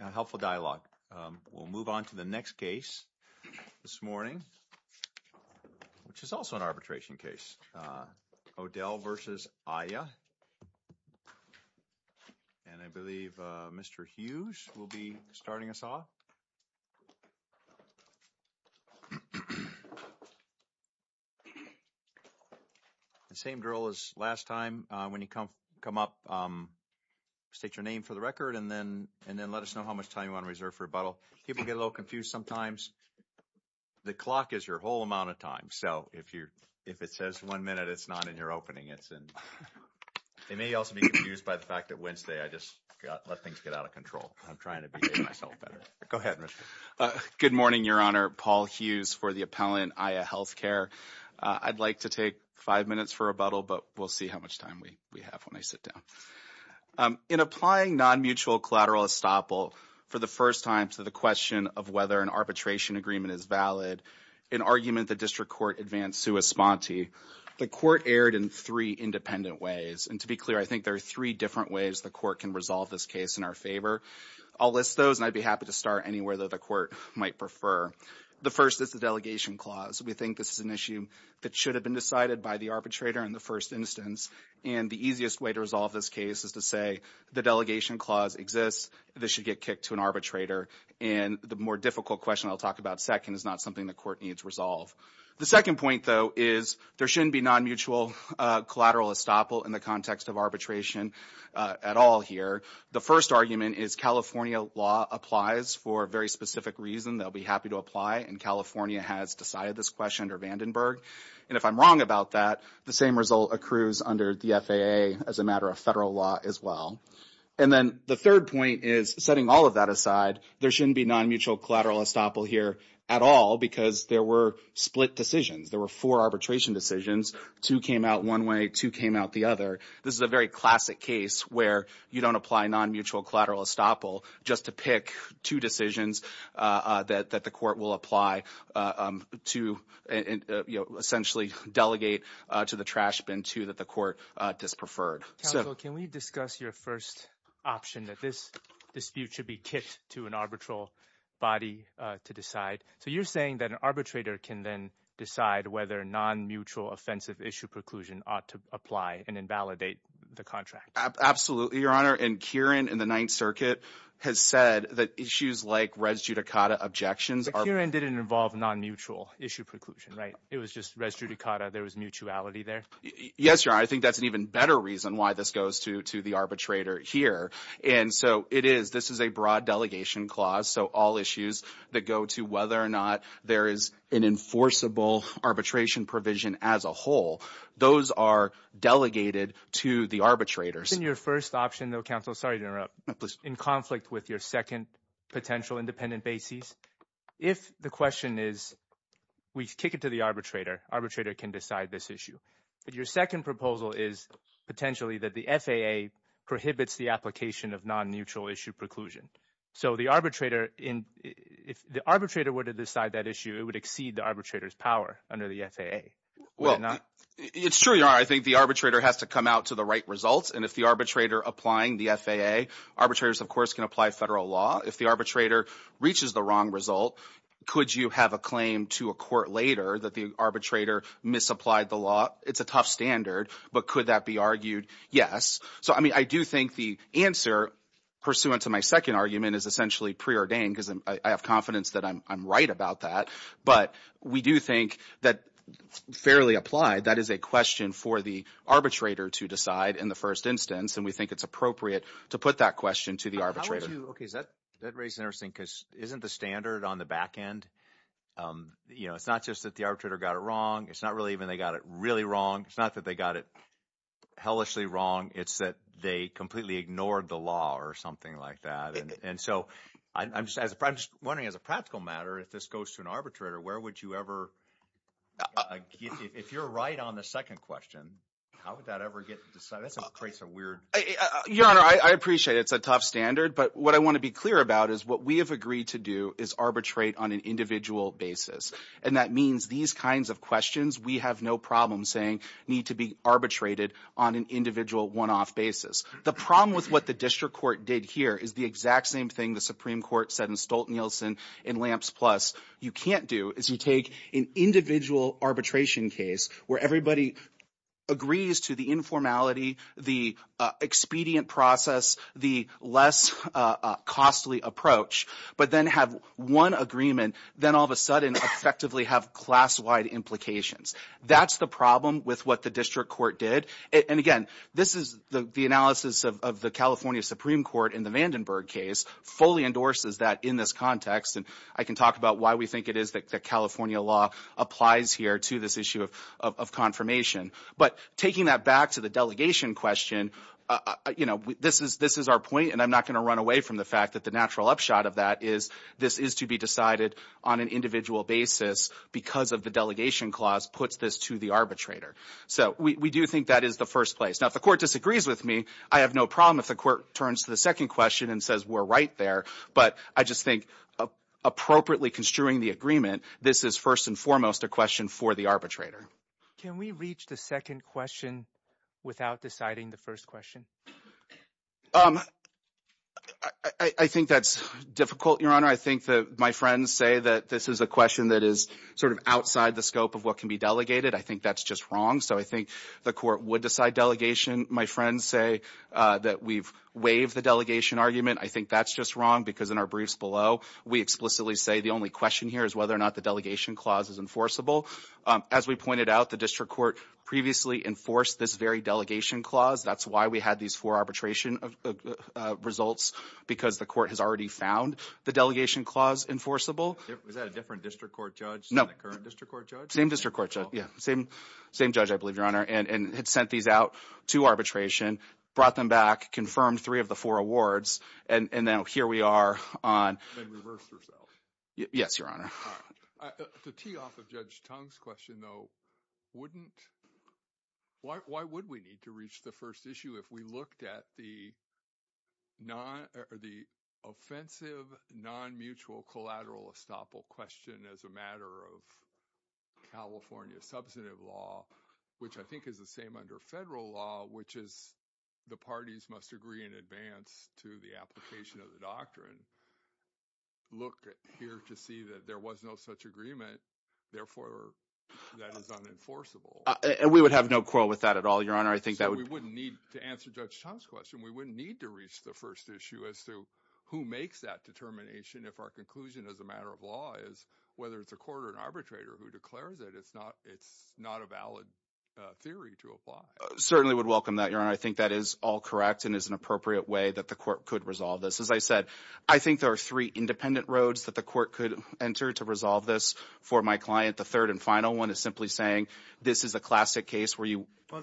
A helpful dialogue. We'll move on to the next case this morning, which is also an arbitration case. O'Dell v. Aya, and I believe Mr. Hughes will be starting us off. The same drill as last time, when you come up, state your name for the record and then let us know how much time you want to reserve for rebuttal. People get a little confused sometimes. The clock is your whole amount of time, so if it says one minute, it's not in your opening. They may also be confused by the fact that Wednesday I just let things get out of control. I'm trying to behave myself better. Go ahead, Mr. Hughes. Good morning, Your Honor. Paul Hughes for the appellant, Aya Healthcare. I'd like to take five minutes for rebuttal, but we'll see how much time we have when I sit down. In applying non-mutual collateral estoppel for the first time to the question of whether an arbitration agreement is valid, an argument the district court advanced sua sponte, the court erred in three independent ways, and to be clear, I think there are three different ways the court can resolve this case in our favor. I'll list those, and I'd be happy to start anywhere that the court might prefer. The first is the delegation clause. We think this is an issue that should have been decided by the arbitrator in the first instance, and the easiest way to resolve this case is to say the delegation clause exists. This should get kicked to an arbitrator, and the more difficult question I'll talk about second is not something the court needs resolved. The second point, though, is there shouldn't be non-mutual collateral estoppel in the context of arbitration at all here. The first argument is California law applies for a very specific reason. They'll be happy to apply, and California has decided this question under Vandenberg, and if I'm wrong about that, the same result accrues under the FAA as a matter of federal law as well, and then the third point is setting all of that aside, there shouldn't be non-mutual collateral estoppel here at all because there were split decisions. There were four arbitration decisions. Two came out one way. Two came out the other. This is a very classic case where you don't apply non-mutual collateral estoppel just to pick two decisions that the court will apply to essentially delegate to the trash bin to that the court dispreferred. Counsel, can we discuss your first option that this dispute should be kicked to an arbitral body to decide? So you're saying that an arbitrator can then decide whether non-mutual offensive issue preclusion ought to apply and invalidate the contract. Absolutely, Your Honor, and Kieran in the Ninth Circuit has said that issues like res judicata objections are... But Kieran didn't involve non-mutual issue preclusion, right? It was just res judicata. There was mutuality there. Yes, Your Honor. I think that's an even better reason why this goes to the arbitrator here. And so it is, this is a broad delegation clause. So all issues that go to whether or not there is an enforceable arbitration provision as a whole, those are delegated to the arbitrators. Your first option though, counsel, sorry to interrupt, in conflict with your second potential independent basis, if the question is we kick it to the arbitrator, arbitrator can decide this issue. But your second proposal is potentially that the FAA prohibits the application of non-mutual issue preclusion. So the arbitrator, if the arbitrator were to decide that issue, it would exceed the arbitrator's power under the FAA. Well, it's true, Your Honor. I think the arbitrator has to come out to the right results. And if the arbitrator applying the FAA, arbitrators, of course, can apply federal law. If the arbitrator reaches the wrong result, could you have a claim to a court later that the arbitrator misapplied the law? It's a tough standard, but could that be argued? Yes. So, I mean, I do think the answer pursuant to my second argument is essentially preordained because I have confidence that I'm right about that. But we do think that fairly applied, that is a question for the arbitrator to decide in the first instance. And we think it's appropriate to put that question to the arbitrator. How would you, okay, that raises an interesting, because isn't the standard on the back end, you know, it's not just that the arbitrator got it wrong. It's not really even they got it really wrong. It's not that they got it hellishly wrong. It's that they completely ignored the law or something like that. And so I'm just wondering as a practical matter, if this goes to an arbitrator, where would you ever, if you're right on the second question, how would that ever get decided? That's a weird. Your Honor, I appreciate it's a tough standard, but what I want to be clear about is what we have agreed to do is arbitrate on an individual basis. And that means these kinds of questions we have no problem saying need to be arbitrated on an individual one-off basis. The problem with what the district court did here is the exact same thing the Supreme Court said in Stolten-Nielsen and Lamps Plus. You can't do is you take an individual arbitration case where everybody agrees to the informality, the expedient process, the less costly approach, but then have one agreement, then all of a sudden effectively have class-wide implications. That's the problem with what the district court did. And again, this is the analysis of the California Supreme Court in the Vandenberg case fully endorses that in this context. And I can talk about why we think it is that California law applies here to this issue of confirmation. But taking that back to the delegation question, this is our point, and I'm not going to run away from the fact that the natural upshot of that is this is to be decided on an individual basis because of the delegation clause puts this to the arbitrator. So we do think that is the first place. Now, if the court disagrees with me, I have no problem if the court turns to the second question and says we're right there. But I just think appropriately construing the agreement, this is first and foremost a question for the arbitrator. Can we reach the second question without deciding the first question? I think that's difficult, Your Honor. I think that my friends say that this is a question that is sort of outside the scope of what can be delegated. I think that's just wrong. So I think the court would decide delegation. My friends say that we've waived the delegation argument. I think that's just wrong because in our briefs below, we explicitly say the only question here is whether or not the delegation clause is enforceable. As we pointed out, the district court previously enforced this very delegation clause. That's why we had these four arbitration results because the court has already found the delegation clause enforceable. Was that a different district court judge? No. The current district court judge? Same district court judge. Yeah. Same judge, I believe, Your Honor, and had sent these out to arbitration, brought them back, confirmed three of the four awards, and now here we are on... And reversed ourselves. Yes, Your Honor. To tee off of Judge Tong's question, though, why would we need to reach the first issue if we looked at the offensive non-mutual collateral estoppel question as a matter of California substantive law, which I think is the same under federal law, which is the parties must agree in advance to the application of the doctrine. Look here to see that there was no such agreement. Therefore, that is unenforceable. We would have no quarrel with that at all, Your Honor. I think that would... So we wouldn't need to answer Judge Tong's question. We wouldn't need to reach the first issue as to who makes that determination if our conclusion as a matter of law is whether it's a court or an arbitrator who declares it. It's not a valid theory to apply. Certainly would welcome that, Your Honor. I think that is all correct and is an appropriate way that the court could resolve this. As I said, I think there are three independent roads that the court could enter to resolve this for my client. The third and final one is simply saying, this is a classic case where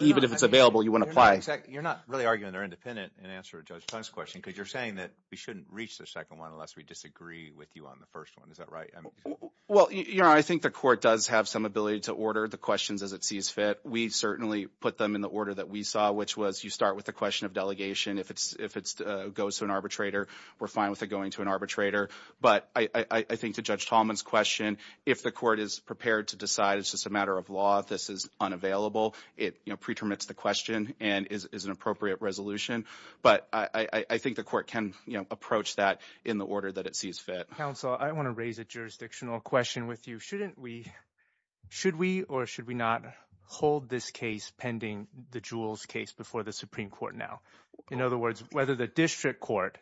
even if it's available, you want to apply. You're not really arguing they're independent in answer to Judge Tong's question because you're saying that we shouldn't reach the second one unless we disagree with you on the first one. Is that right? Well, Your Honor, I think the court does have some ability to order the questions as it sees fit. We certainly put them in the order that we saw, which was you start with the question of delegation. If it goes to an arbitrator, we're fine with it going to an arbitrator. But I think to Judge Tallman's question, if the court is prepared to decide it's just a matter of law, this is unavailable, it pre-permits the question and is an appropriate resolution. But I think the court can approach that in the order that it sees fit. Counsel, I want to raise a jurisdictional question with you. Shouldn't we, should we or should we not hold this case pending the Jules case before the Supreme Court now? In other words, whether the district court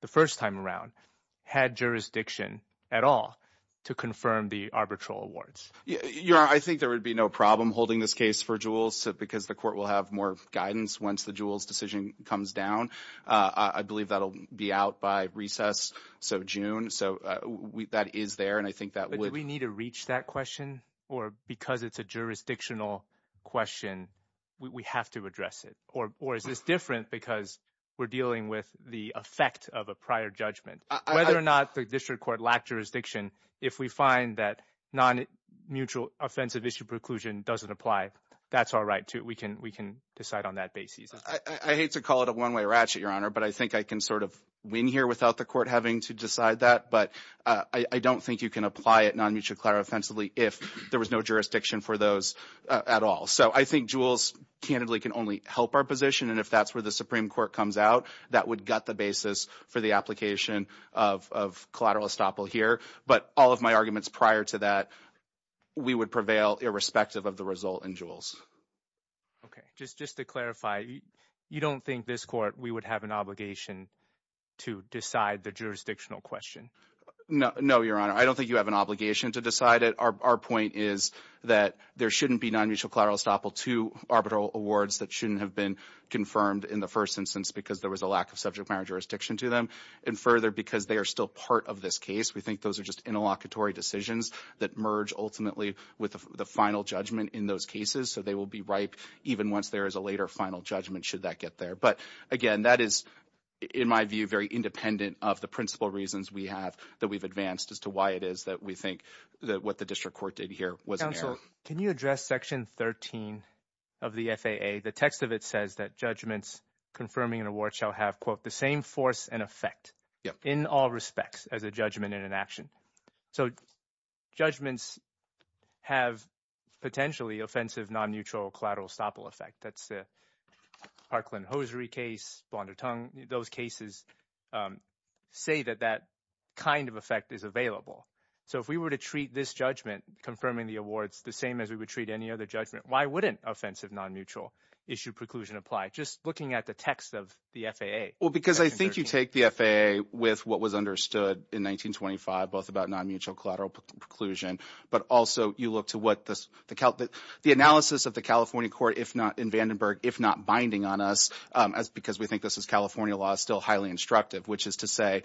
the first time around had jurisdiction at all to confirm the arbitral awards? Your Honor, I think there would be no problem holding this case for Jules because the court will have more guidance once the Jules decision comes down. I believe that'll be out by recess, so June. So that is there and I think that would... Do we need to reach that question or because it's a jurisdictional question, we have to address it? Or is this different because we're dealing with the effect of a prior judgment? Whether or not the district court lacked jurisdiction, if we find that non-mutual offensive issue preclusion doesn't apply, that's all right too. We can decide on that basis. I hate to call it a one-way ratchet, Your Honor, but I think I can sort of win here without the court having to decide that. But I don't think you can apply it non-mutual clarifensively if there was no jurisdiction for those at all. So I think Jules candidly can only help our position and if that's where the Supreme Court comes out, that would gut the basis for the application of collateral estoppel here. But all of my arguments prior to that, we would prevail irrespective of the result in Jules. Okay, just to clarify, you don't think this court, we would have an obligation to decide the jurisdictional question? No, Your Honor. I don't think you have an obligation to decide it. Our point is that there shouldn't be non-mutual collateral estoppel to arbitral awards that shouldn't have been confirmed in the first instance because there was a lack of subject matter jurisdiction to them. And further, because they are still part of this case, we think those are just interlocutory decisions that merge ultimately with the final judgment in those cases. So they will be ripe even once there is a later final judgment should that get there. But again, that is, in my view, very independent of the principal reasons we have that we've advanced as to why it is that we think that what the district court did here was an error. Counselor, can you address section 13 of the FAA? The text of it says that judgments confirming an award shall have, quote, the same force and effect in all respects as a judgment in an action. So judgments have potentially offensive non-mutual collateral estoppel effect. That's the Parkland-Hosiery case, Blondertongue. Those cases say that that kind of effect is available. So if we were to treat this judgment confirming the awards the same as we would treat any other judgment, why wouldn't offensive non-mutual issue preclusion apply? Just looking at the text of the FAA. Well, because I think you take the FAA with what was understood in 1925, both about non-mutual collateral preclusion, but also you look to what the analysis of the Vandenberg, if not binding on us, because we think this is California law, is still highly instructive, which is to say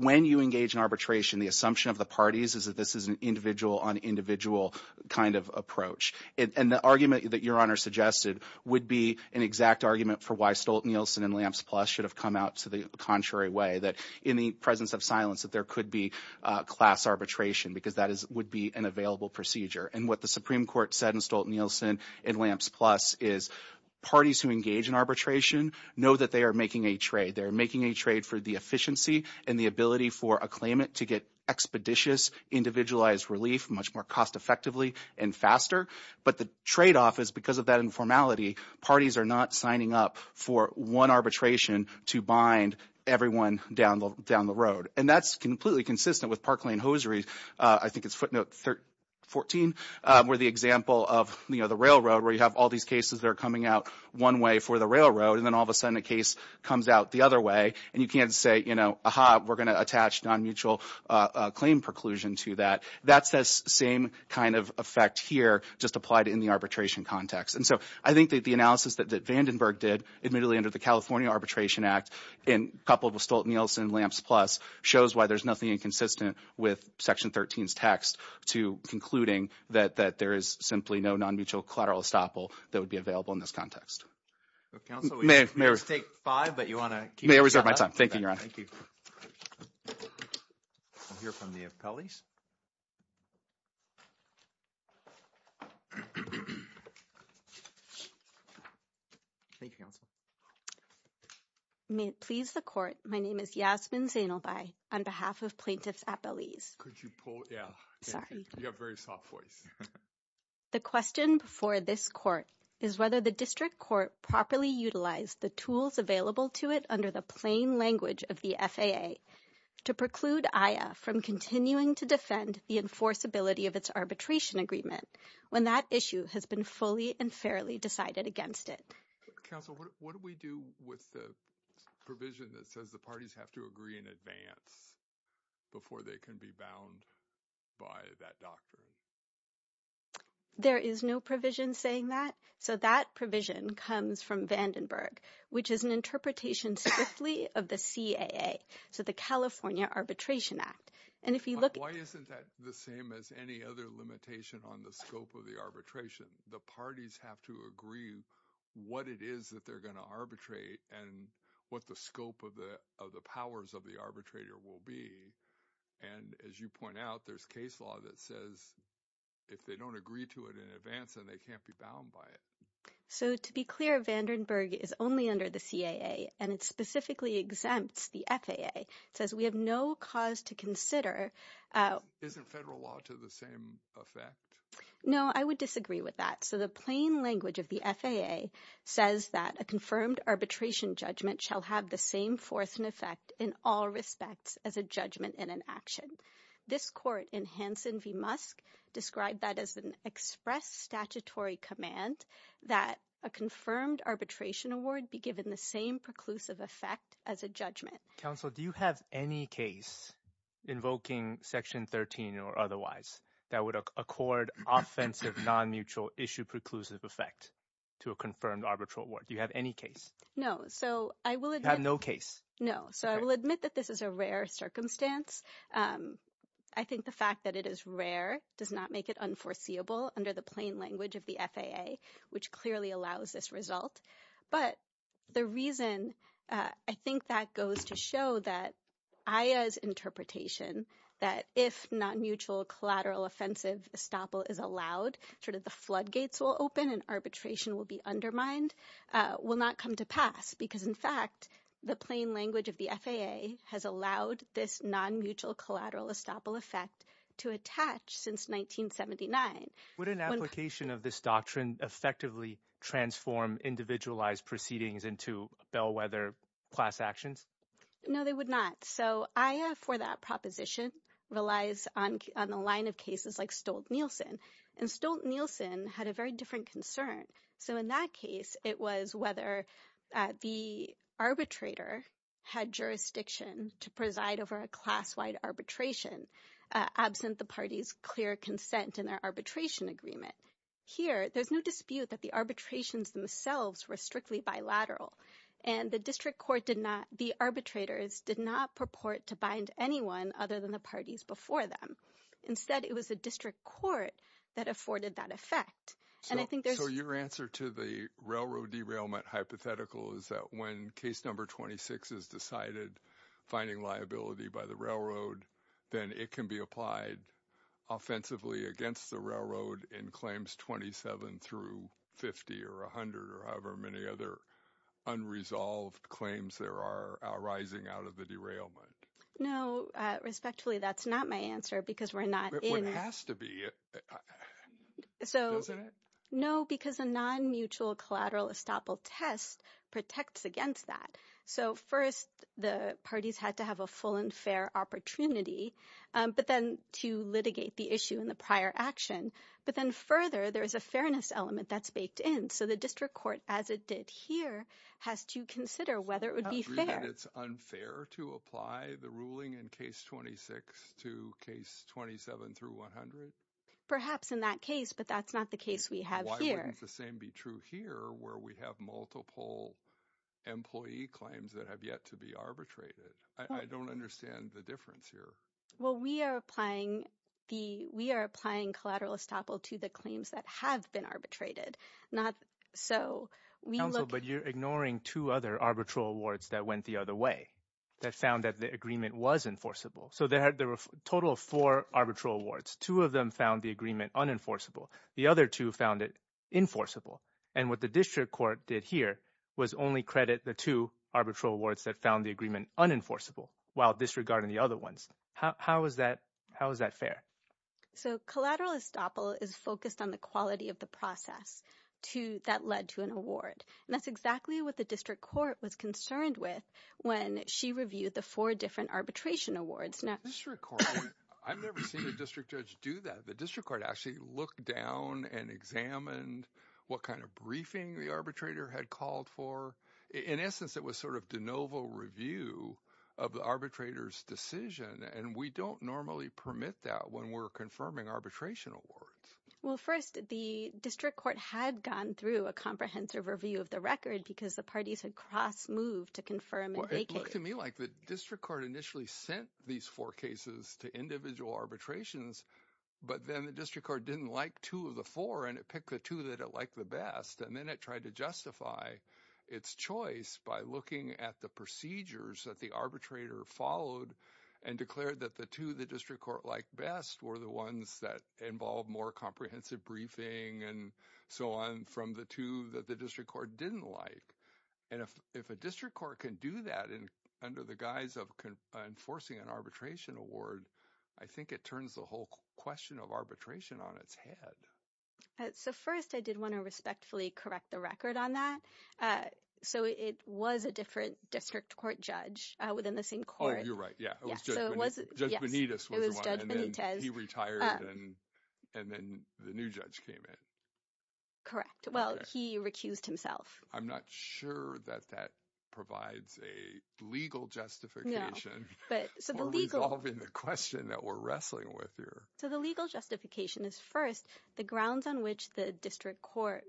when you engage in arbitration, the assumption of the parties is that this is an individual on individual kind of approach. And the argument that your honor suggested would be an exact argument for why Stolten-Nielsen and Lamps Plus should have come out to the contrary way, that in the presence of silence that there could be class arbitration because that would be an available procedure. And what the Supreme Court said in Stolten-Nielsen and Lamps Plus is parties who engage in arbitration know that they are making a trade. They're making a trade for the efficiency and the ability for a claimant to get expeditious individualized relief much more cost-effectively and faster. But the trade-off is because of that informality, parties are not signing up for one arbitration to bind everyone down the road. And that's completely consistent with Park Lane Hosiery, I think it's footnote 14, where the railroad where you have all these cases that are coming out one way for the railroad and then all of a sudden a case comes out the other way and you can't say, you know, aha, we're going to attach non-mutual claim preclusion to that. That's the same kind of effect here just applied in the arbitration context. And so I think that the analysis that Vandenberg did admittedly under the California Arbitration Act in couple of Stolten-Nielsen and Lamps Plus shows why there's nothing inconsistent with Section 13's text to concluding that there is simply no non-mutual collateral estoppel that would be available in this context. Counsel, we're going to take five, but you want to... May I reserve my time? Thank you, Your Honor. Thank you. We'll hear from the appellees. Thank you, Counsel. May it please the Court, my name is Yasmin Zainalbai on behalf of plaintiffs' appellees. Could you pull... Yeah. Sorry. You have very soft voice. The question before this Court is whether the District Court properly utilized the tools available to it under the plain language of the FAA to preclude AYA from continuing to defend the enforceability of its arbitration agreement when that issue has been fully and fairly decided against it. Counsel, what do we do with the provision that says the parties have to agree in advance before they can be bound by that doctrine? There is no provision saying that. So that provision comes from Vandenberg, which is an interpretation strictly of the CAA, so the California Arbitration Act. And if you look... Why isn't that the same as any other limitation on the scope of the arbitration? The parties have to agree what it is that they're going to arbitrate and what the scope of the powers of the arbitrator will be. And as you point out, there's case law that says if they don't agree to it in advance, then they can't be bound by it. So to be clear, Vandenberg is only under the CAA, and it specifically exempts the FAA. It says we have no cause to consider... Isn't federal law to the same effect? No, I would disagree with that. So the plain language of the FAA says that a confirmed arbitration judgment shall have the same force and effect in all respects as a judgment and an action. This court in Hansen v. Musk described that as an express statutory command that a confirmed arbitration award be given the same preclusive effect as a judgment. Counsel, do you have any case invoking section 13 or otherwise that would accord offensive non-mutual issue preclusive effect to a confirmed arbitral award? Do you have any case? No. So I will... You have no case. No. So I will admit that this is a rare circumstance. I think the fact that it is rare does not make it unforeseeable under the plain language of the FAA, which clearly allows this result. But the reason I think that goes to show that AYA's interpretation that if non-mutual collateral offensive estoppel is allowed, sort of the floodgates will open and arbitration will be undermined, will not come to pass. Because in fact, the plain language of the FAA has allowed this non-mutual collateral estoppel effect to attach since 1979. Would an application of this doctrine effectively transform individualized proceedings into bellwether class actions? No, they would not. So AYA for that proposition relies on the line of cases like Stolt-Nielsen. And Stolt-Nielsen had a very different concern. So in that case, it was whether the arbitrator had jurisdiction to preside over a class-wide arbitration, absent the party's clear consent in their arbitration agreement. Here, there's no dispute that the arbitrations themselves were strictly bilateral. And the district court did not, the arbitrators did not purport to bind anyone other than the parties before them. Instead, it was the district court that afforded that effect. So your answer to the railroad derailment hypothetical is that when case number 26 is decided, finding liability by the railroad, then it can be applied offensively against the railroad in claims 27 through 50 or 100 or however many other unresolved claims there are arising out of the derailment? No, respectfully, that's not my answer because we're not in— But it has to be, doesn't it? No, because a non-mutual collateral estoppel test protects against that. So first, the parties had to have a full and fair opportunity, but then to litigate the issue in the prior action. But then further, there's a fairness element that's baked in. So the district court, as it did here, has to consider whether it would be fair. Do you agree that it's unfair to apply the ruling in case 26 to case 27 through 100? Perhaps in that case, but that's not the case we have here. Wouldn't the same be true here where we have multiple employee claims that have yet to be arbitrated? I don't understand the difference here. Well, we are applying collateral estoppel to the claims that have been arbitrated, not so we look— Counsel, but you're ignoring two other arbitral awards that went the other way, that found that the agreement was enforceable. So there were a total of four arbitral awards. Two of them found the agreement unenforceable. The other two found it enforceable. And what the district court did here was only credit the two arbitral awards that found the agreement unenforceable while disregarding the other ones. How is that fair? So collateral estoppel is focused on the quality of the process that led to an award. And that's exactly what the district court was concerned with when she reviewed the four different arbitration awards. Now, the district court, I've never seen a district judge do that. The district court actually looked down and examined what kind of briefing the arbitrator had called for. In essence, it was sort of de novo review of the arbitrator's decision. And we don't normally permit that when we're confirming arbitration awards. Well, first, the district court had gone through a comprehensive review of the record because the parties had cross-moved to confirm and vacate. Well, it looked to me like the district court initially sent these four cases to individual arbitrations, but then the district court didn't like two of the four, and it picked the two that it liked the best. And then it tried to justify its choice by looking at the procedures that the arbitrator followed and declared that the two the district court liked best were the ones that involved more comprehensive briefing and so on from the two that the district court didn't like. And if a district court can do that under the guise of enforcing an arbitration award, I think it turns the whole question of arbitration on its head. So first, I did want to respectfully correct the record on that. So it was a different district court judge within the same court. Oh, you're right. Yeah, Judge Benitez was the one, and then he retired, and then the new judge came in. Correct. Well, he recused himself. I'm not sure that that provides a legal justification for resolving the question. So the legal justification is, first, the grounds on which the district court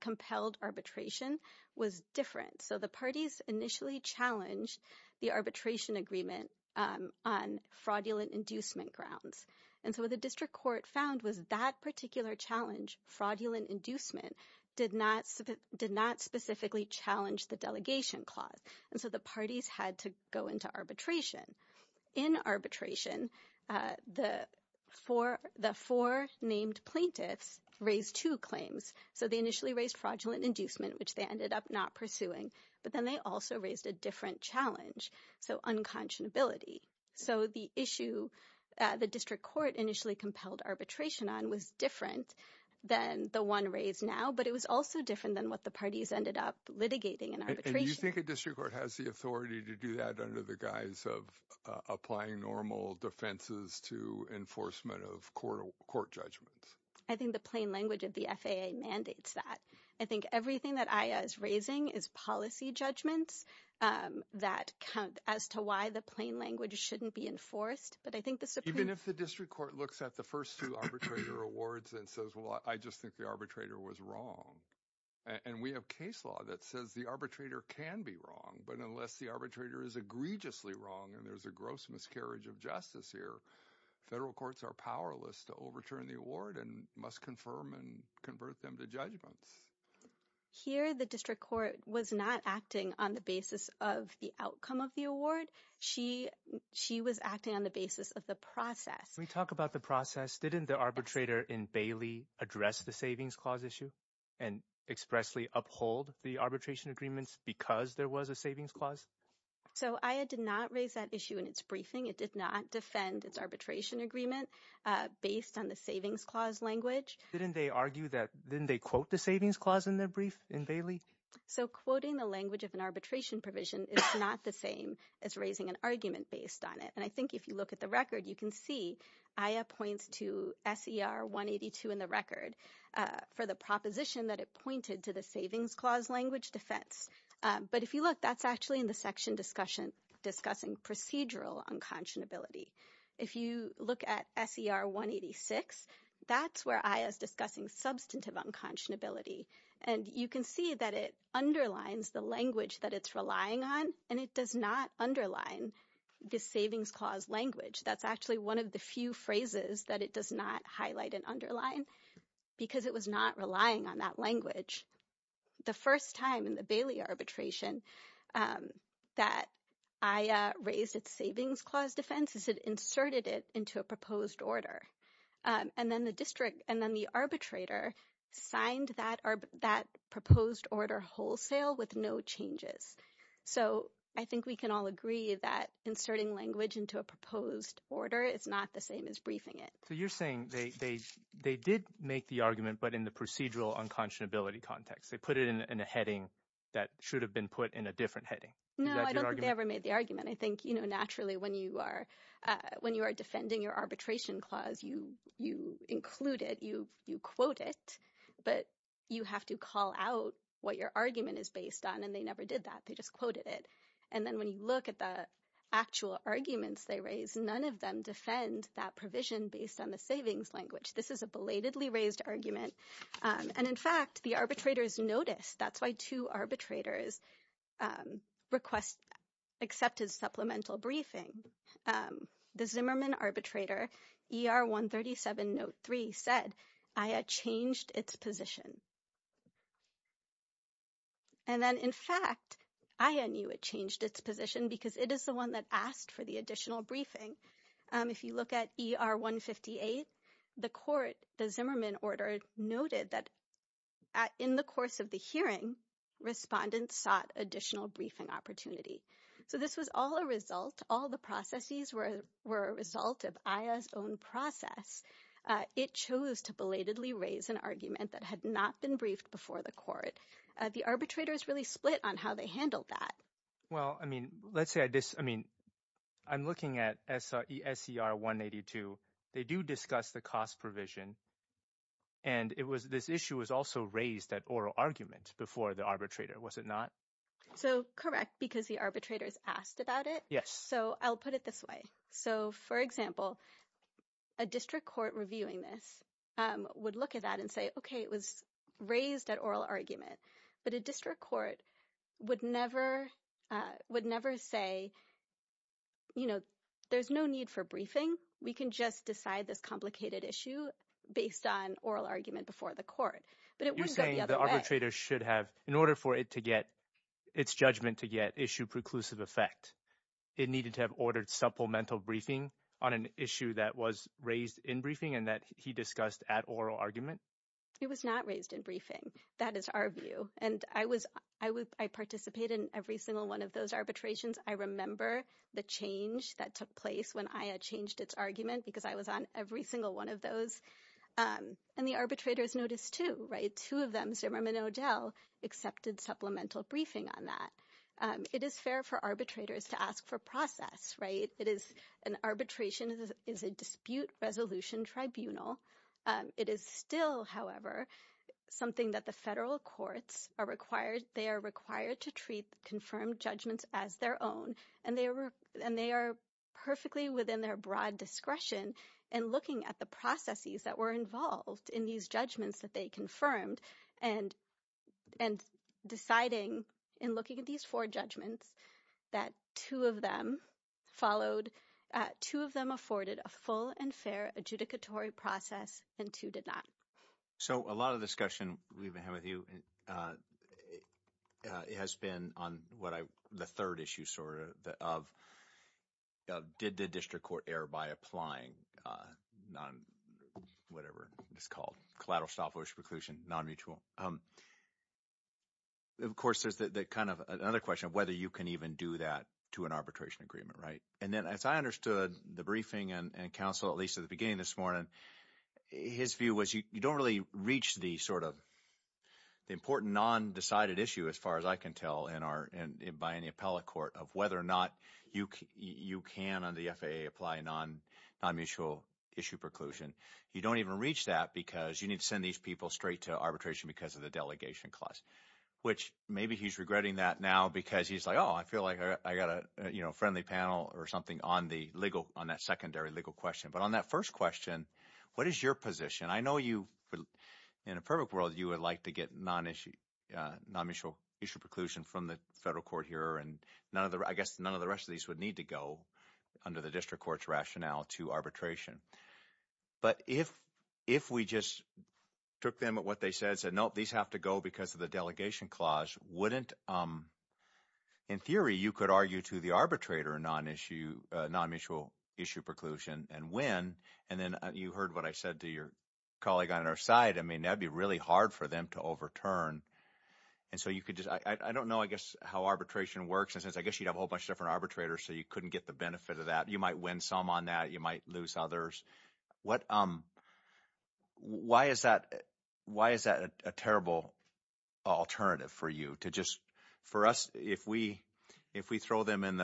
compelled arbitration was different. So the parties initially challenged the arbitration agreement on fraudulent inducement grounds. And so what the district court found was that particular challenge, fraudulent inducement, did not specifically challenge the delegation clause. And so the parties had to go into arbitration. In arbitration, the four named plaintiffs raised two claims. So they initially raised fraudulent inducement, which they ended up not pursuing. But then they also raised a different challenge, so unconscionability. So the issue the district court initially compelled arbitration on was different than the one raised now. But it was also different than what the parties ended up litigating in arbitration. Do you think a district court has the authority to do that under the guise of applying normal defenses to enforcement of court judgments? I think the plain language of the FAA mandates that. I think everything that AYA is raising is policy judgments that count as to why the plain language shouldn't be enforced. But I think the Supreme- Even if the district court looks at the first two arbitrator awards and says, well, I just think the arbitrator was wrong. And we have case law that says the arbitrator can be wrong. But unless the arbitrator is egregiously wrong, and there's a gross miscarriage of justice here, federal courts are powerless to overturn the award and must confirm and convert them to judgments. Here, the district court was not acting on the basis of the outcome of the award. She was acting on the basis of the process. We talk about the process. Didn't the arbitrator in Bailey address the savings clause issue? And expressly uphold the arbitration agreements because there was a savings clause? So AYA did not raise that issue in its briefing. It did not defend its arbitration agreement based on the savings clause language. Didn't they argue that- Didn't they quote the savings clause in their brief in Bailey? So quoting the language of an arbitration provision is not the same as raising an argument based on it. And I think if you look at the record, you can see AYA points to SER 182 in the record for the proposition that it pointed to the savings clause language defense. But if you look, that's actually in the section discussion, discussing procedural unconscionability. If you look at SER 186, that's where AYA is discussing substantive unconscionability. And you can see that it underlines the language that it's relying on, and it does not underline the savings clause language. That's actually one of the few phrases that it does not highlight and underline. Because it was not relying on that language. The first time in the Bailey arbitration that AYA raised its savings clause defense is it inserted it into a proposed order. And then the district and then the arbitrator signed that proposed order wholesale with no changes. So I think we can all agree that inserting language into a proposed order is not the same as briefing it. You're saying they did make the argument, but in the procedural unconscionability context, they put it in a heading that should have been put in a different heading. No, I don't think they ever made the argument. I think naturally when you are defending your arbitration clause, you include it, you quote it, but you have to call out what your argument is based on. And they never did that. They just quoted it. And then when you look at the actual arguments they raised, none of them defend that provision based on the savings language. This is a belatedly raised argument. And in fact, the arbitrators noticed. That's why two arbitrators accepted supplemental briefing. The Zimmerman arbitrator, ER 137 note 3, said AYA changed its position. And then in fact, AYA knew it changed its position because it is the one that asked for the additional briefing. If you look at ER 158, the court, the Zimmerman order noted that in the course of the hearing, respondents sought additional briefing opportunity. So this was all a result. All the processes were a result of AYA's own process. It chose to belatedly raise an argument that had not been briefed before the court. The arbitrators really split on how they handled that. Well, I mean, let's say, I mean, I'm looking at SCR 182. They do discuss the cost provision. And this issue was also raised at oral argument before the arbitrator, was it not? So correct, because the arbitrators asked about it. Yes. So I'll put it this way. So for example, a district court reviewing this would look at that and say, OK, it was raised at oral argument. But a district court would never say, you know, there's no need for briefing. We can just decide this complicated issue based on oral argument before the court. But it wouldn't go the other way. You're saying the arbitrator should have, in order for it to get, its judgment to get issue preclusive effect, it needed to have ordered supplemental briefing on an issue that was raised in briefing and that he discussed at oral argument? It was not raised in briefing. That is our view. And I participated in every single one of those arbitrations. I remember the change that took place when AYA changed its argument, because I was on every single one of those. And the arbitrators noticed too, right? Two of them, Zimmerman and O'Dell, accepted supplemental briefing on that. It is fair for arbitrators to ask for process, right? It is an arbitration, is a dispute resolution tribunal. It is still, however, something that the federal courts are required, they are required to treat confirmed judgments as their own. And they are perfectly within their broad discretion in looking at the processes that were involved in these judgments that they confirmed. And deciding, in looking at these four judgments, that two of them followed, two of them afforded a full and fair adjudicatory process, and two did not. So a lot of the discussion we've been having with you has been on what I, the third issue sort of, that of did the district court err by applying non, whatever it's called, collateral stop-loss preclusion, non-mutual. Of course, there's that kind of another question of whether you can even do that to an arbitration agreement, right? And then, as I understood the briefing and counsel, at least at the beginning this morning, his view was you don't really reach the sort of, the important non-decided issue, as far as I can tell, in our, by any appellate court of whether or not you can, under the FAA, apply a non-mutual issue preclusion. You don't even reach that because you need to send these people straight to arbitration because of the delegation clause. Which maybe he's regretting that now because he's like, I feel like I got a friendly panel or something on the legal, on that secondary legal question. But on that first question, what is your position? I know you, in a perfect world, you would like to get non-issue, non-mutual issue preclusion from the federal court here and none of the, I guess none of the rest of these would need to go under the district court's rationale to arbitration. But if we just took them at what they said, said, nope, these have to go because of the delegation clause, wouldn't, in theory, you could argue to the arbitrator a non-issue, non-mutual issue preclusion and win. And then you heard what I said to your colleague on our side. I mean, that'd be really hard for them to overturn. And so you could just, I don't know, I guess, how arbitration works. And since I guess you'd have a whole bunch of different arbitrators, so you couldn't get the benefit of that. You might win some on that. You might lose others. What, why is that a terrible alternative for you to just, for us, if we throw them in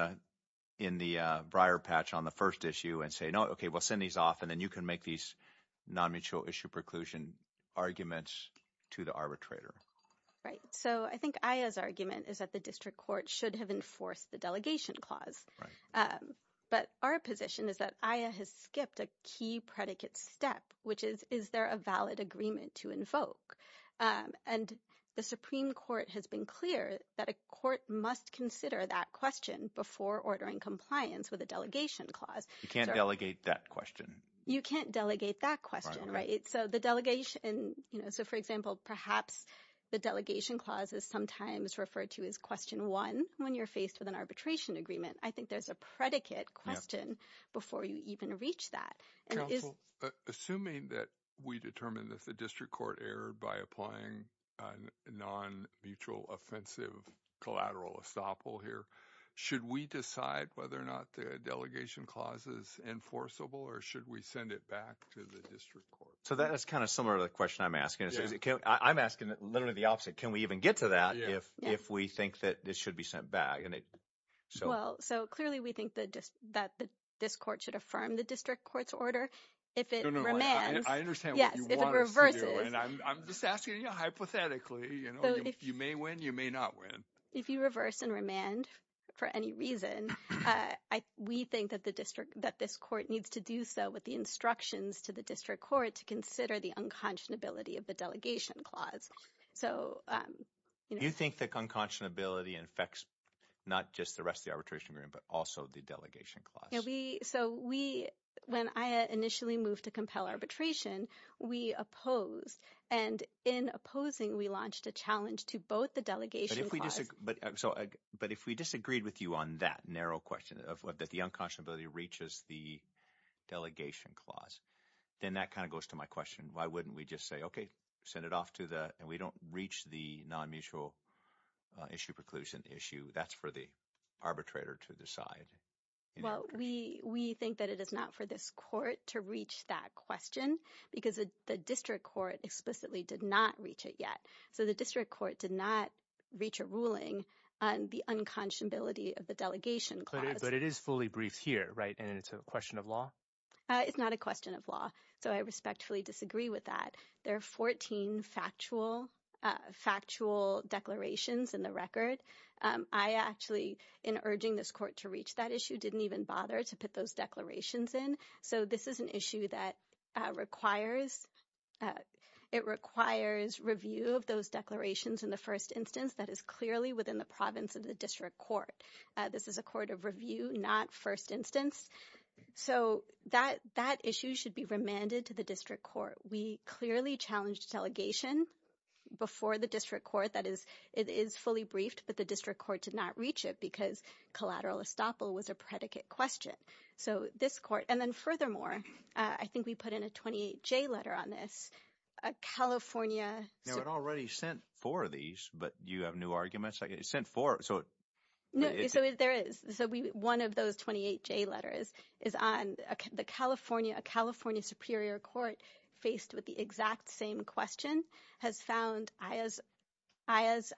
the briar patch on the first issue and say, no, okay, we'll send these off. And then you can make these non-mutual issue preclusion arguments to the arbitrator. Right. So I think Aya's argument is that the district court should have enforced the delegation clause. Right. But our position is that Aya has skipped a key predicate step, which is, is there a valid agreement to invoke? And the Supreme Court has been clear that a court must consider that question before ordering compliance with a delegation clause. You can't delegate that question. You can't delegate that question, right? So the delegation, so for example, perhaps the delegation clause is sometimes referred to as question one, when you're faced with an arbitration agreement. I think there's a predicate question before you even reach that. Assuming that we determined that the district court erred by applying a non-mutual offensive collateral estoppel here, should we decide whether or not the delegation clause is enforceable or should we send it back to the district court? So that is kind of similar to the question I'm asking. I'm asking literally the opposite. Can we even get to that if we think that this should be sent back? Well, so clearly we think that this court should affirm the district court's order. If it remands. I understand what you want us to do, and I'm just asking you hypothetically. You may win, you may not win. If you reverse and remand for any reason, we think that the district, that this court needs to do so with the instructions to the district court to consider the unconscionability of the delegation clause. So you think that unconscionability infects not just the rest of the arbitration agreement, but also the delegation clause? When I initially moved to compel arbitration, we opposed. And in opposing, we launched a challenge to both the delegation clause. But if we disagreed with you on that narrow question, that the unconscionability reaches the delegation clause, then that kind of goes to my question. Why wouldn't we just say, okay, send it off to the, and we don't reach the non-mutual issue preclusion issue. That's for the arbitrator to decide. Well, we think that it is not for this court to reach that question, because the district court explicitly did not reach it yet. So the district court did not reach a ruling on the unconscionability of the delegation clause. But it is fully briefed here, right? And it's a question of law? It's not a question of law. So I respectfully disagree with that. There are 14 factual declarations in the record. I actually, in urging this court to reach that issue, didn't even bother to put those declarations in. So this is an issue that requires, it requires review of those declarations in the first instance that is clearly within the province of the district court. This is a court of review, not first instance. So that issue should be remanded to the district court. We clearly challenged delegation before the district court. That is, it is fully briefed, but the district court did not reach it because collateral estoppel was a predicate question. So this court, and then furthermore, I think we put in a 28J letter on this, a California. Now it already sent four of these, but you have new arguments. Like it sent four. No, so there is. One of those 28J letters is on the California, a California superior court faced with the exact same question has found AYA's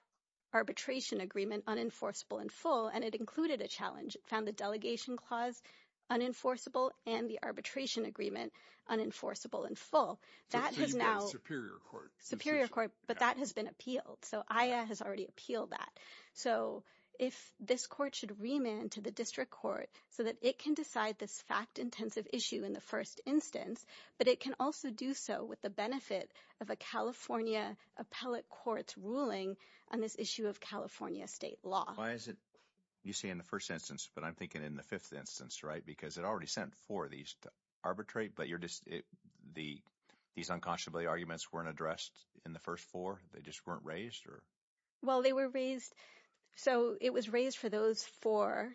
arbitration agreement unenforceable in full, and it included a challenge. It found the delegation clause unenforceable and the arbitration agreement unenforceable in full. That has now. So you've got a superior court. Superior court, but that has been appealed. So AYA has already appealed that. So if this court should remand to the district court so that it can decide this fact-intensive issue in the first instance, but it can also do so with the benefit of a California appellate court's ruling on this issue of California state law. Why is it you say in the first instance, but I'm thinking in the fifth instance, right? Because it already sent four of these to arbitrate, but these unconscionably arguments weren't addressed in the first four. They just weren't raised or? Well, they were raised. So it was raised for those four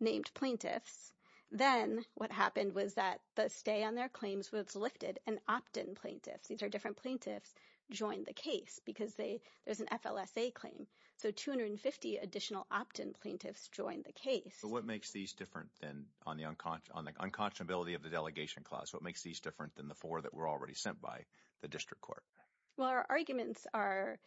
named plaintiffs. Then what happened was that the stay on their claims was lifted and opt-in plaintiffs, these are different plaintiffs, joined the case because there's an FLSA claim. So 250 additional opt-in plaintiffs joined the case. But what makes these different than on the unconscionability of the delegation clause? What makes these different than the four that were already sent by the district court? Well, our arguments are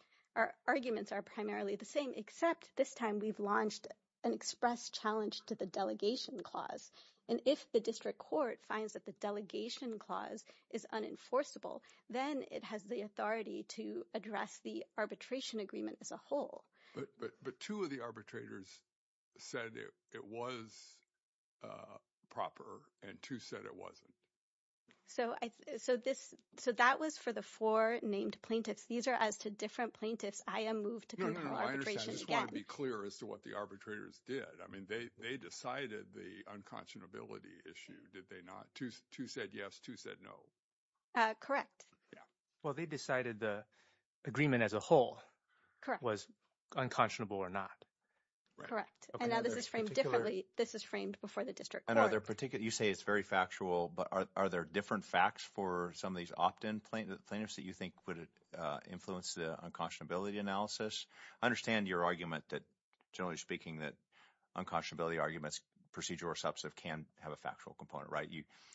primarily the same, except this time we've launched an express challenge to the delegation clause. And if the district court finds that the delegation clause is unenforceable, then it has the authority to address the arbitration agreement as a whole. But two of the arbitrators said it was proper and two said it wasn't. So that was for the four named plaintiffs. These are as to different plaintiffs. I am moved to confirm arbitration again. I just want to be clear as to what the arbitrators did. I mean, they decided the unconscionability issue, did they not? Two said yes, two said no. Correct. Well, they decided the agreement as a whole was unconscionable or not. Correct. And now this is framed differently. This is framed before the district court. And are there particular, you say it's very factual, but are there different facts for some of these opt-in plaintiffs that you think would influence the unconscionability analysis? I understand your argument that, generally speaking, that unconscionability arguments, procedural or substantive, can have a factual component, right?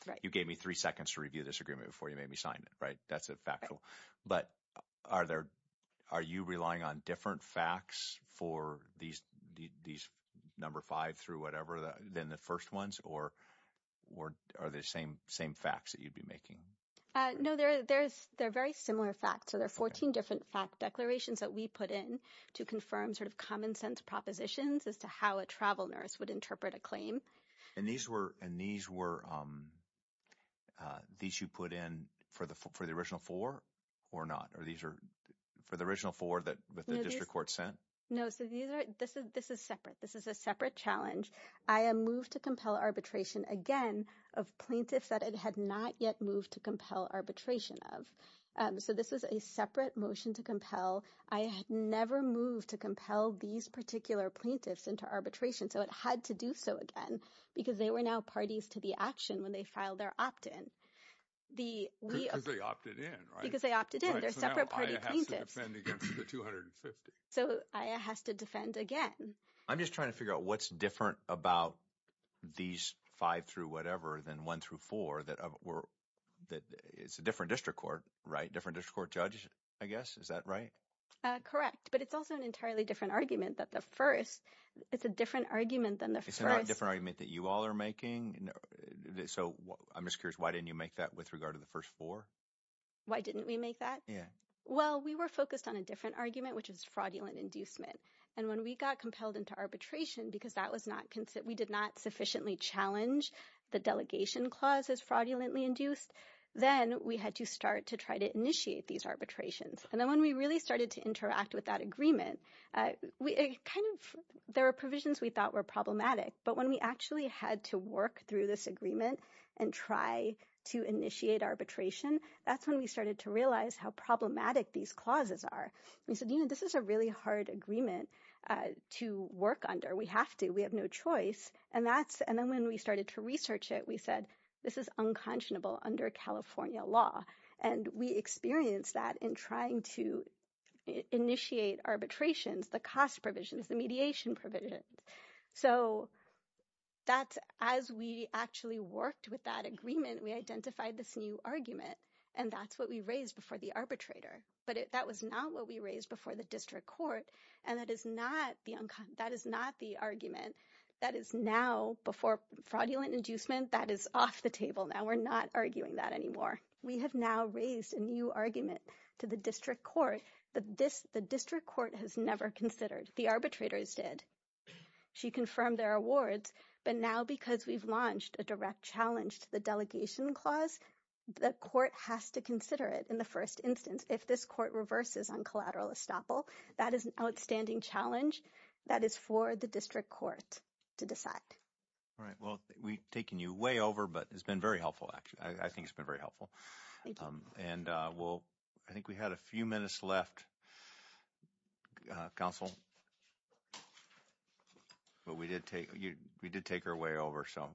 Right. You gave me three seconds to review this agreement before you made me sign it, right? That's a factual. But are you relying on different facts for these number five through whatever than the first ones or are they the same facts that you'd be making? No, they're very similar facts. So there are 14 different fact declarations that we put in to confirm sort of common sense propositions as to how a travel nurse would interpret a claim. And these were, these you put in for the original four or not? For the original four that the district court sent? No, so this is separate. This is a separate challenge. AYA moved to compel arbitration again of plaintiffs that it had not yet moved to compel arbitration of. So this is a separate motion to compel. AYA had never moved to compel these particular plaintiffs into arbitration. So it had to do so again because they were now parties to the action when they filed their opt-in. Because they opted in, right? Because they opted in. They're separate party plaintiffs. So now AYA has to defend against the 250. So AYA has to defend again. I'm just trying to figure out what's different about these five through whatever than one through four that were, that it's a different district court, right? Different district court judge, I guess. Is that right? Correct. But it's also an entirely different argument that the first, it's a different argument than the first. It's not a different argument that you all are making. So I'm just curious, why didn't you make that with regard to the first four? Why didn't we make that? Yeah. Well, we were focused on a different argument, which is fraudulent inducement. And when we got compelled into arbitration, because we did not sufficiently challenge the delegation clause as fraudulently induced, then we had to start to try to initiate these arbitrations. And then when we really started to interact with that agreement, there were provisions we thought were problematic. But when we actually had to work through this agreement and try to initiate arbitration, that's when we started to realize how problematic these clauses are. We said, you know, this is a really hard agreement to work under. We have to, we have no choice. And that's, and then when we started to research it, we said, this is unconscionable under California law. And we experienced that in trying to initiate arbitrations, the cost provisions, the mediation provisions. So that's, as we actually worked with that agreement, we identified this new argument and that's what we raised before the arbitrator. But that was not what we raised before the district court. And that is not the argument that is now before fraudulent inducement, that is off the table. Now we're not arguing that anymore. We have now raised a new argument to the district court. The district court has never considered, the arbitrators did. She confirmed their awards, but now because we've launched a direct challenge to the delegation clause, the court has to consider it in the first instance. If this court reverses on collateral estoppel, that is an outstanding challenge that is for the district court to decide. Well, we've taken you way over, but it's been very helpful, actually. I think it's been very helpful. And we'll, I think we had a few minutes left. Counsel. But we did take, you, we did take her way over. So,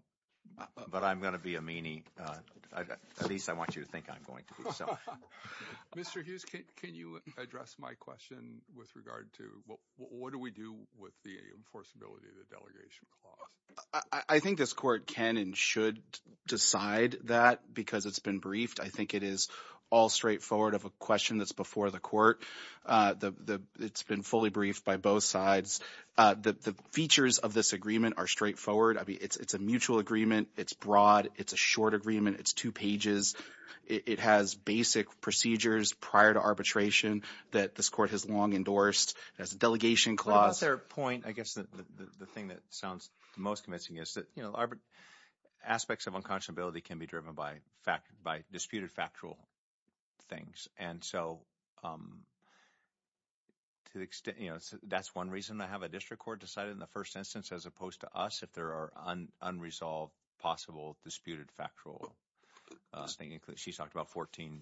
but I'm going to be a meanie. At least I want you to think I'm going to be. Mr. Hughes, can you address my question with regard to what do we do with the enforceability of the delegation clause? I think this court can and should decide that because it's been briefed. I think it is all straightforward of a question that's before the court. It's been fully briefed by both sides. The features of this agreement are straightforward. I mean, it's a mutual agreement. It's broad. It's a short agreement. It's two pages. It has basic procedures prior to arbitration that this court has long endorsed as a delegation clause. But about their point, I guess the thing that sounds the most convincing is that, you know, aspects of unconscionability can be driven by fact, by disputed factual things. And so, to the extent, you know, that's one reason I have a district court decided in the first instance, as opposed to us, if there are unresolved, possible, disputed factual... She's talked about 14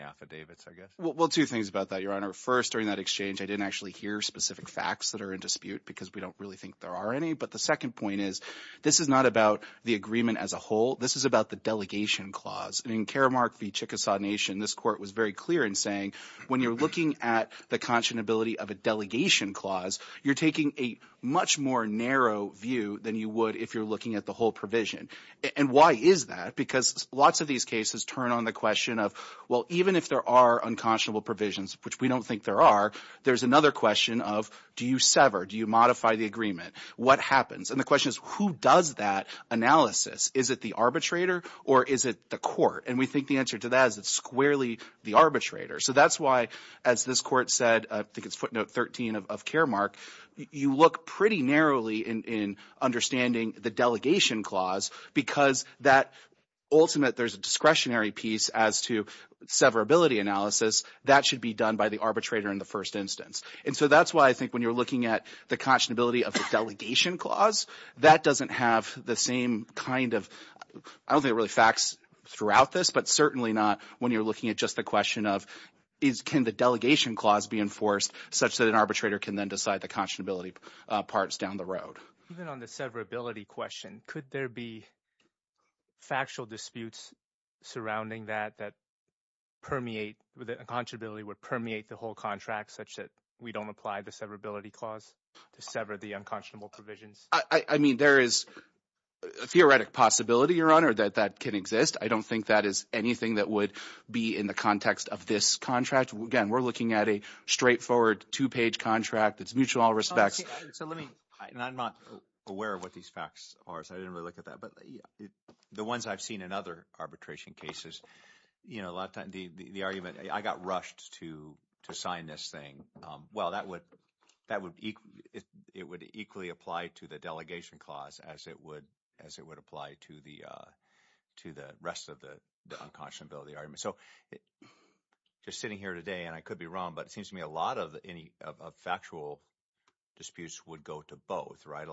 affidavits, I guess. Well, two things about that, Your Honor. First, during that exchange, I didn't actually hear specific facts that are in dispute because we don't really think there are any. But the second point is, this is not about the agreement as a whole. This is about the delegation clause. And in Karamark v. Chickasaw Nation, this court was very clear in saying, when you're looking at the conscionability of a delegation clause, you're taking a much more narrow view than you would if you're looking at the whole provision. And why is that? Because lots of these cases turn on the question of, well, even if there are unconscionable provisions, which we don't think there are, there's another question of, do you sever? Do you modify the agreement? What happens? And the question is, who does that analysis? Is it the arbitrator or is it the court? And we think the answer to that is it's squarely the arbitrator. So that's why, as this court said, I think it's footnote 13 of Karamark, you look pretty narrowly in understanding the delegation clause because that ultimate, there's a discretionary piece as to severability analysis. That should be done by the arbitrator in the first instance. And so that's why I think when you're looking at the conscionability of the delegation clause, that doesn't have the same kind of, I don't think it really facts throughout this, but certainly not when you're looking at just the question of, can the delegation clause be enforced such that an arbitrator can then decide the conscionability parts down the road? Even on the severability question, could there be factual disputes surrounding that that permeate, where the conscionability would permeate the whole contract such that we don't apply the severability clause to sever the unconscionable provisions? I mean, there is a theoretic possibility, Your Honor, that that can exist. I don't think that is anything that would be in the context of this contract. Again, we're looking at a straightforward two-page contract. It's mutual in all respects. So let me, and I'm not aware of what these facts are, so I didn't really look at that. But the ones I've seen in other arbitration cases, you know, a lot of the argument, I got rushed to sign this thing. Well, that would, it would equally apply to the delegation clause as it would apply to the rest of the unconscionability argument. So just sitting here today, and I could be wrong, but it seems to me a lot of factual disputes would go to both, right? A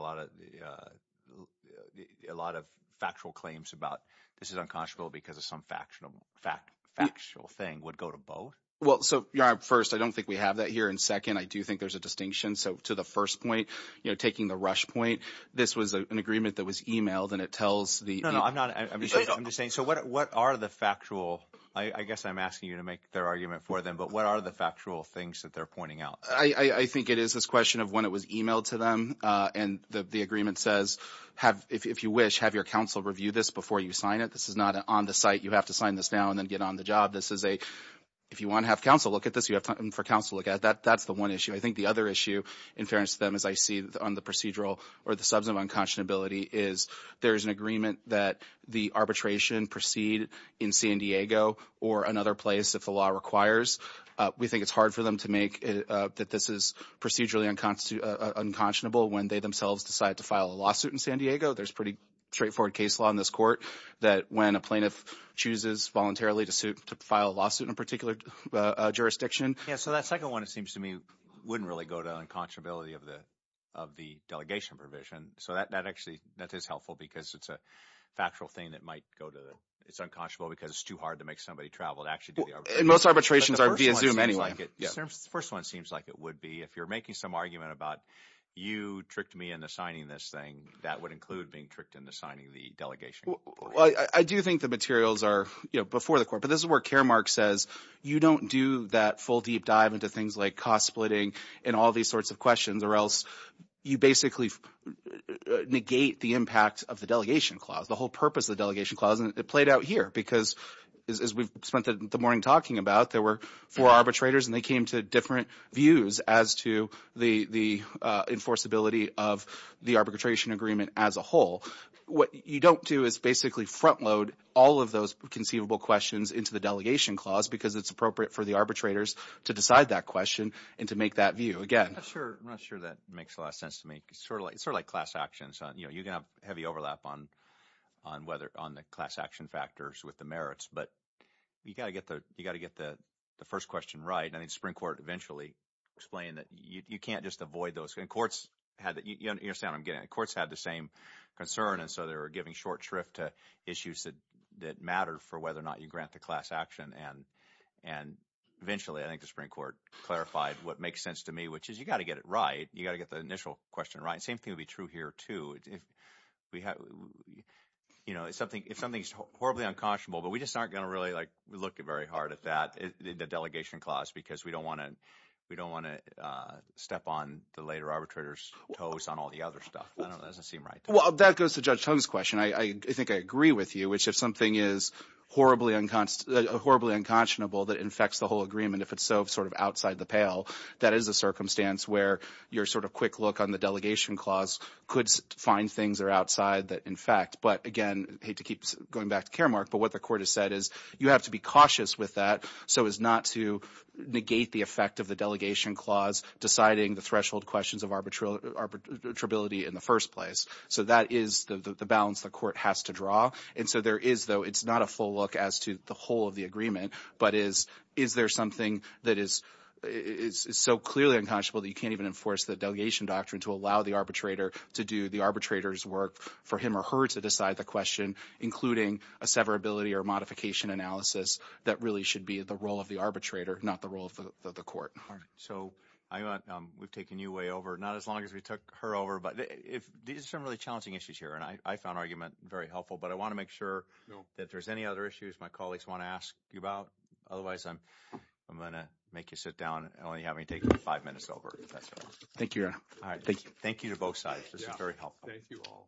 lot of factual claims about this is unconscionable because of some factual thing would go to both? Well, so, Your Honor, first, I don't think we have that here. And second, I do think there's a distinction. So to the first point, you know, taking the rush point, this was an agreement that was emailed and it tells the- No, no, I'm not, I'm just saying, so what are the factual, I guess I'm asking you to make their argument for them, but what are the factual things that they're pointing out? I think it is this question of when it was emailed to them and the agreement says, have, if you wish, have your counsel review this before you sign it. This is not an on the site, you have to sign this now and then get on the job. This is a, if you want to have counsel look at this, you have time for counsel to look at that. That's the one issue. I think the other issue, in fairness to them, as I see on the procedural or the subsequent unconscionability is there's an agreement that the arbitration proceed in San Diego or another place, if the law requires. We think it's hard for them that this is procedurally unconscionable when they themselves decide to file a lawsuit in San Diego. There's pretty straightforward case law in this court that when a plaintiff chooses voluntarily to file a lawsuit in a particular jurisdiction. Yeah, so that second one, it seems to me, wouldn't really go to unconscionability of the delegation provision. So that actually, that is helpful because it's a factual thing that might go to the, it's unconscionable because it's too hard to make somebody travel to actually do the arbitration. And most arbitrations are via Zoom anyway. First one seems like it would be if you're making some argument about you tricked me into signing this thing, that would include being tricked into signing the delegation. I do think the materials are before the court, but this is where Caremark says, you don't do that full deep dive into things like cost splitting and all these sorts of questions or else you basically negate the impact of the delegation clause, the whole purpose of the delegation clause. And it played out here because as we've spent the morning talking about, there were four arbitrators and they came to different views as to the enforceability of the arbitration agreement as a whole. What you don't do is basically front load all of those conceivable questions into the delegation clause because it's appropriate for the arbitrators to decide that question and to make that view. Again, I'm not sure that makes a lot of sense to me. It's sort of like class actions. You can have heavy overlap on the class action factors with the merits, but you got to get the first question right. And I think the Supreme Court eventually explained that you can't just avoid those. And courts had the same concern. And so they were giving short shrift to issues that mattered for whether or not you grant the class action. And eventually, I think the Supreme Court clarified what makes sense to me, which is you got to get it right. You got to get the initial question right. Same thing would be true here too. If something's horribly unconscionable, but we just aren't going to really like look very hard at that, the delegation clause, because we don't want to step on the later arbitrator's toes on all the other stuff. I don't know. That doesn't seem right. Well, that goes to Judge Tong's question. I think I agree with you, which if something is horribly unconscionable that infects the whole agreement, if it's so sort of outside the pail, that is a circumstance where your sort of quick look on the delegation clause could find things that are outside that infect. But again, I hate to keep going back to Karamark, but what the court has said is you have to be cautious with that so as not to negate the effect of the delegation clause deciding the threshold questions of arbitrability in the first place. So that is the balance the court has to draw. And so there is, though, it's not a full look as to the whole of the agreement, but is there something that is so clearly unconscionable that you can't even enforce the delegation doctrine to allow the arbitrator to do the arbitrator's work for him or her to decide the question, including a severability or modification analysis that really should be the role of the arbitrator, not the role of the court. All right. So we've taken you way over, not as long as we took her over, but there's some really challenging issues here. And I found argument very helpful, but I want to make sure that there's any other issues my colleagues want to ask you about. Otherwise, I'm going to make you sit down and only have me take five minutes over. Thank you. All right. Thank you to both sides. This is very helpful. Thank you all.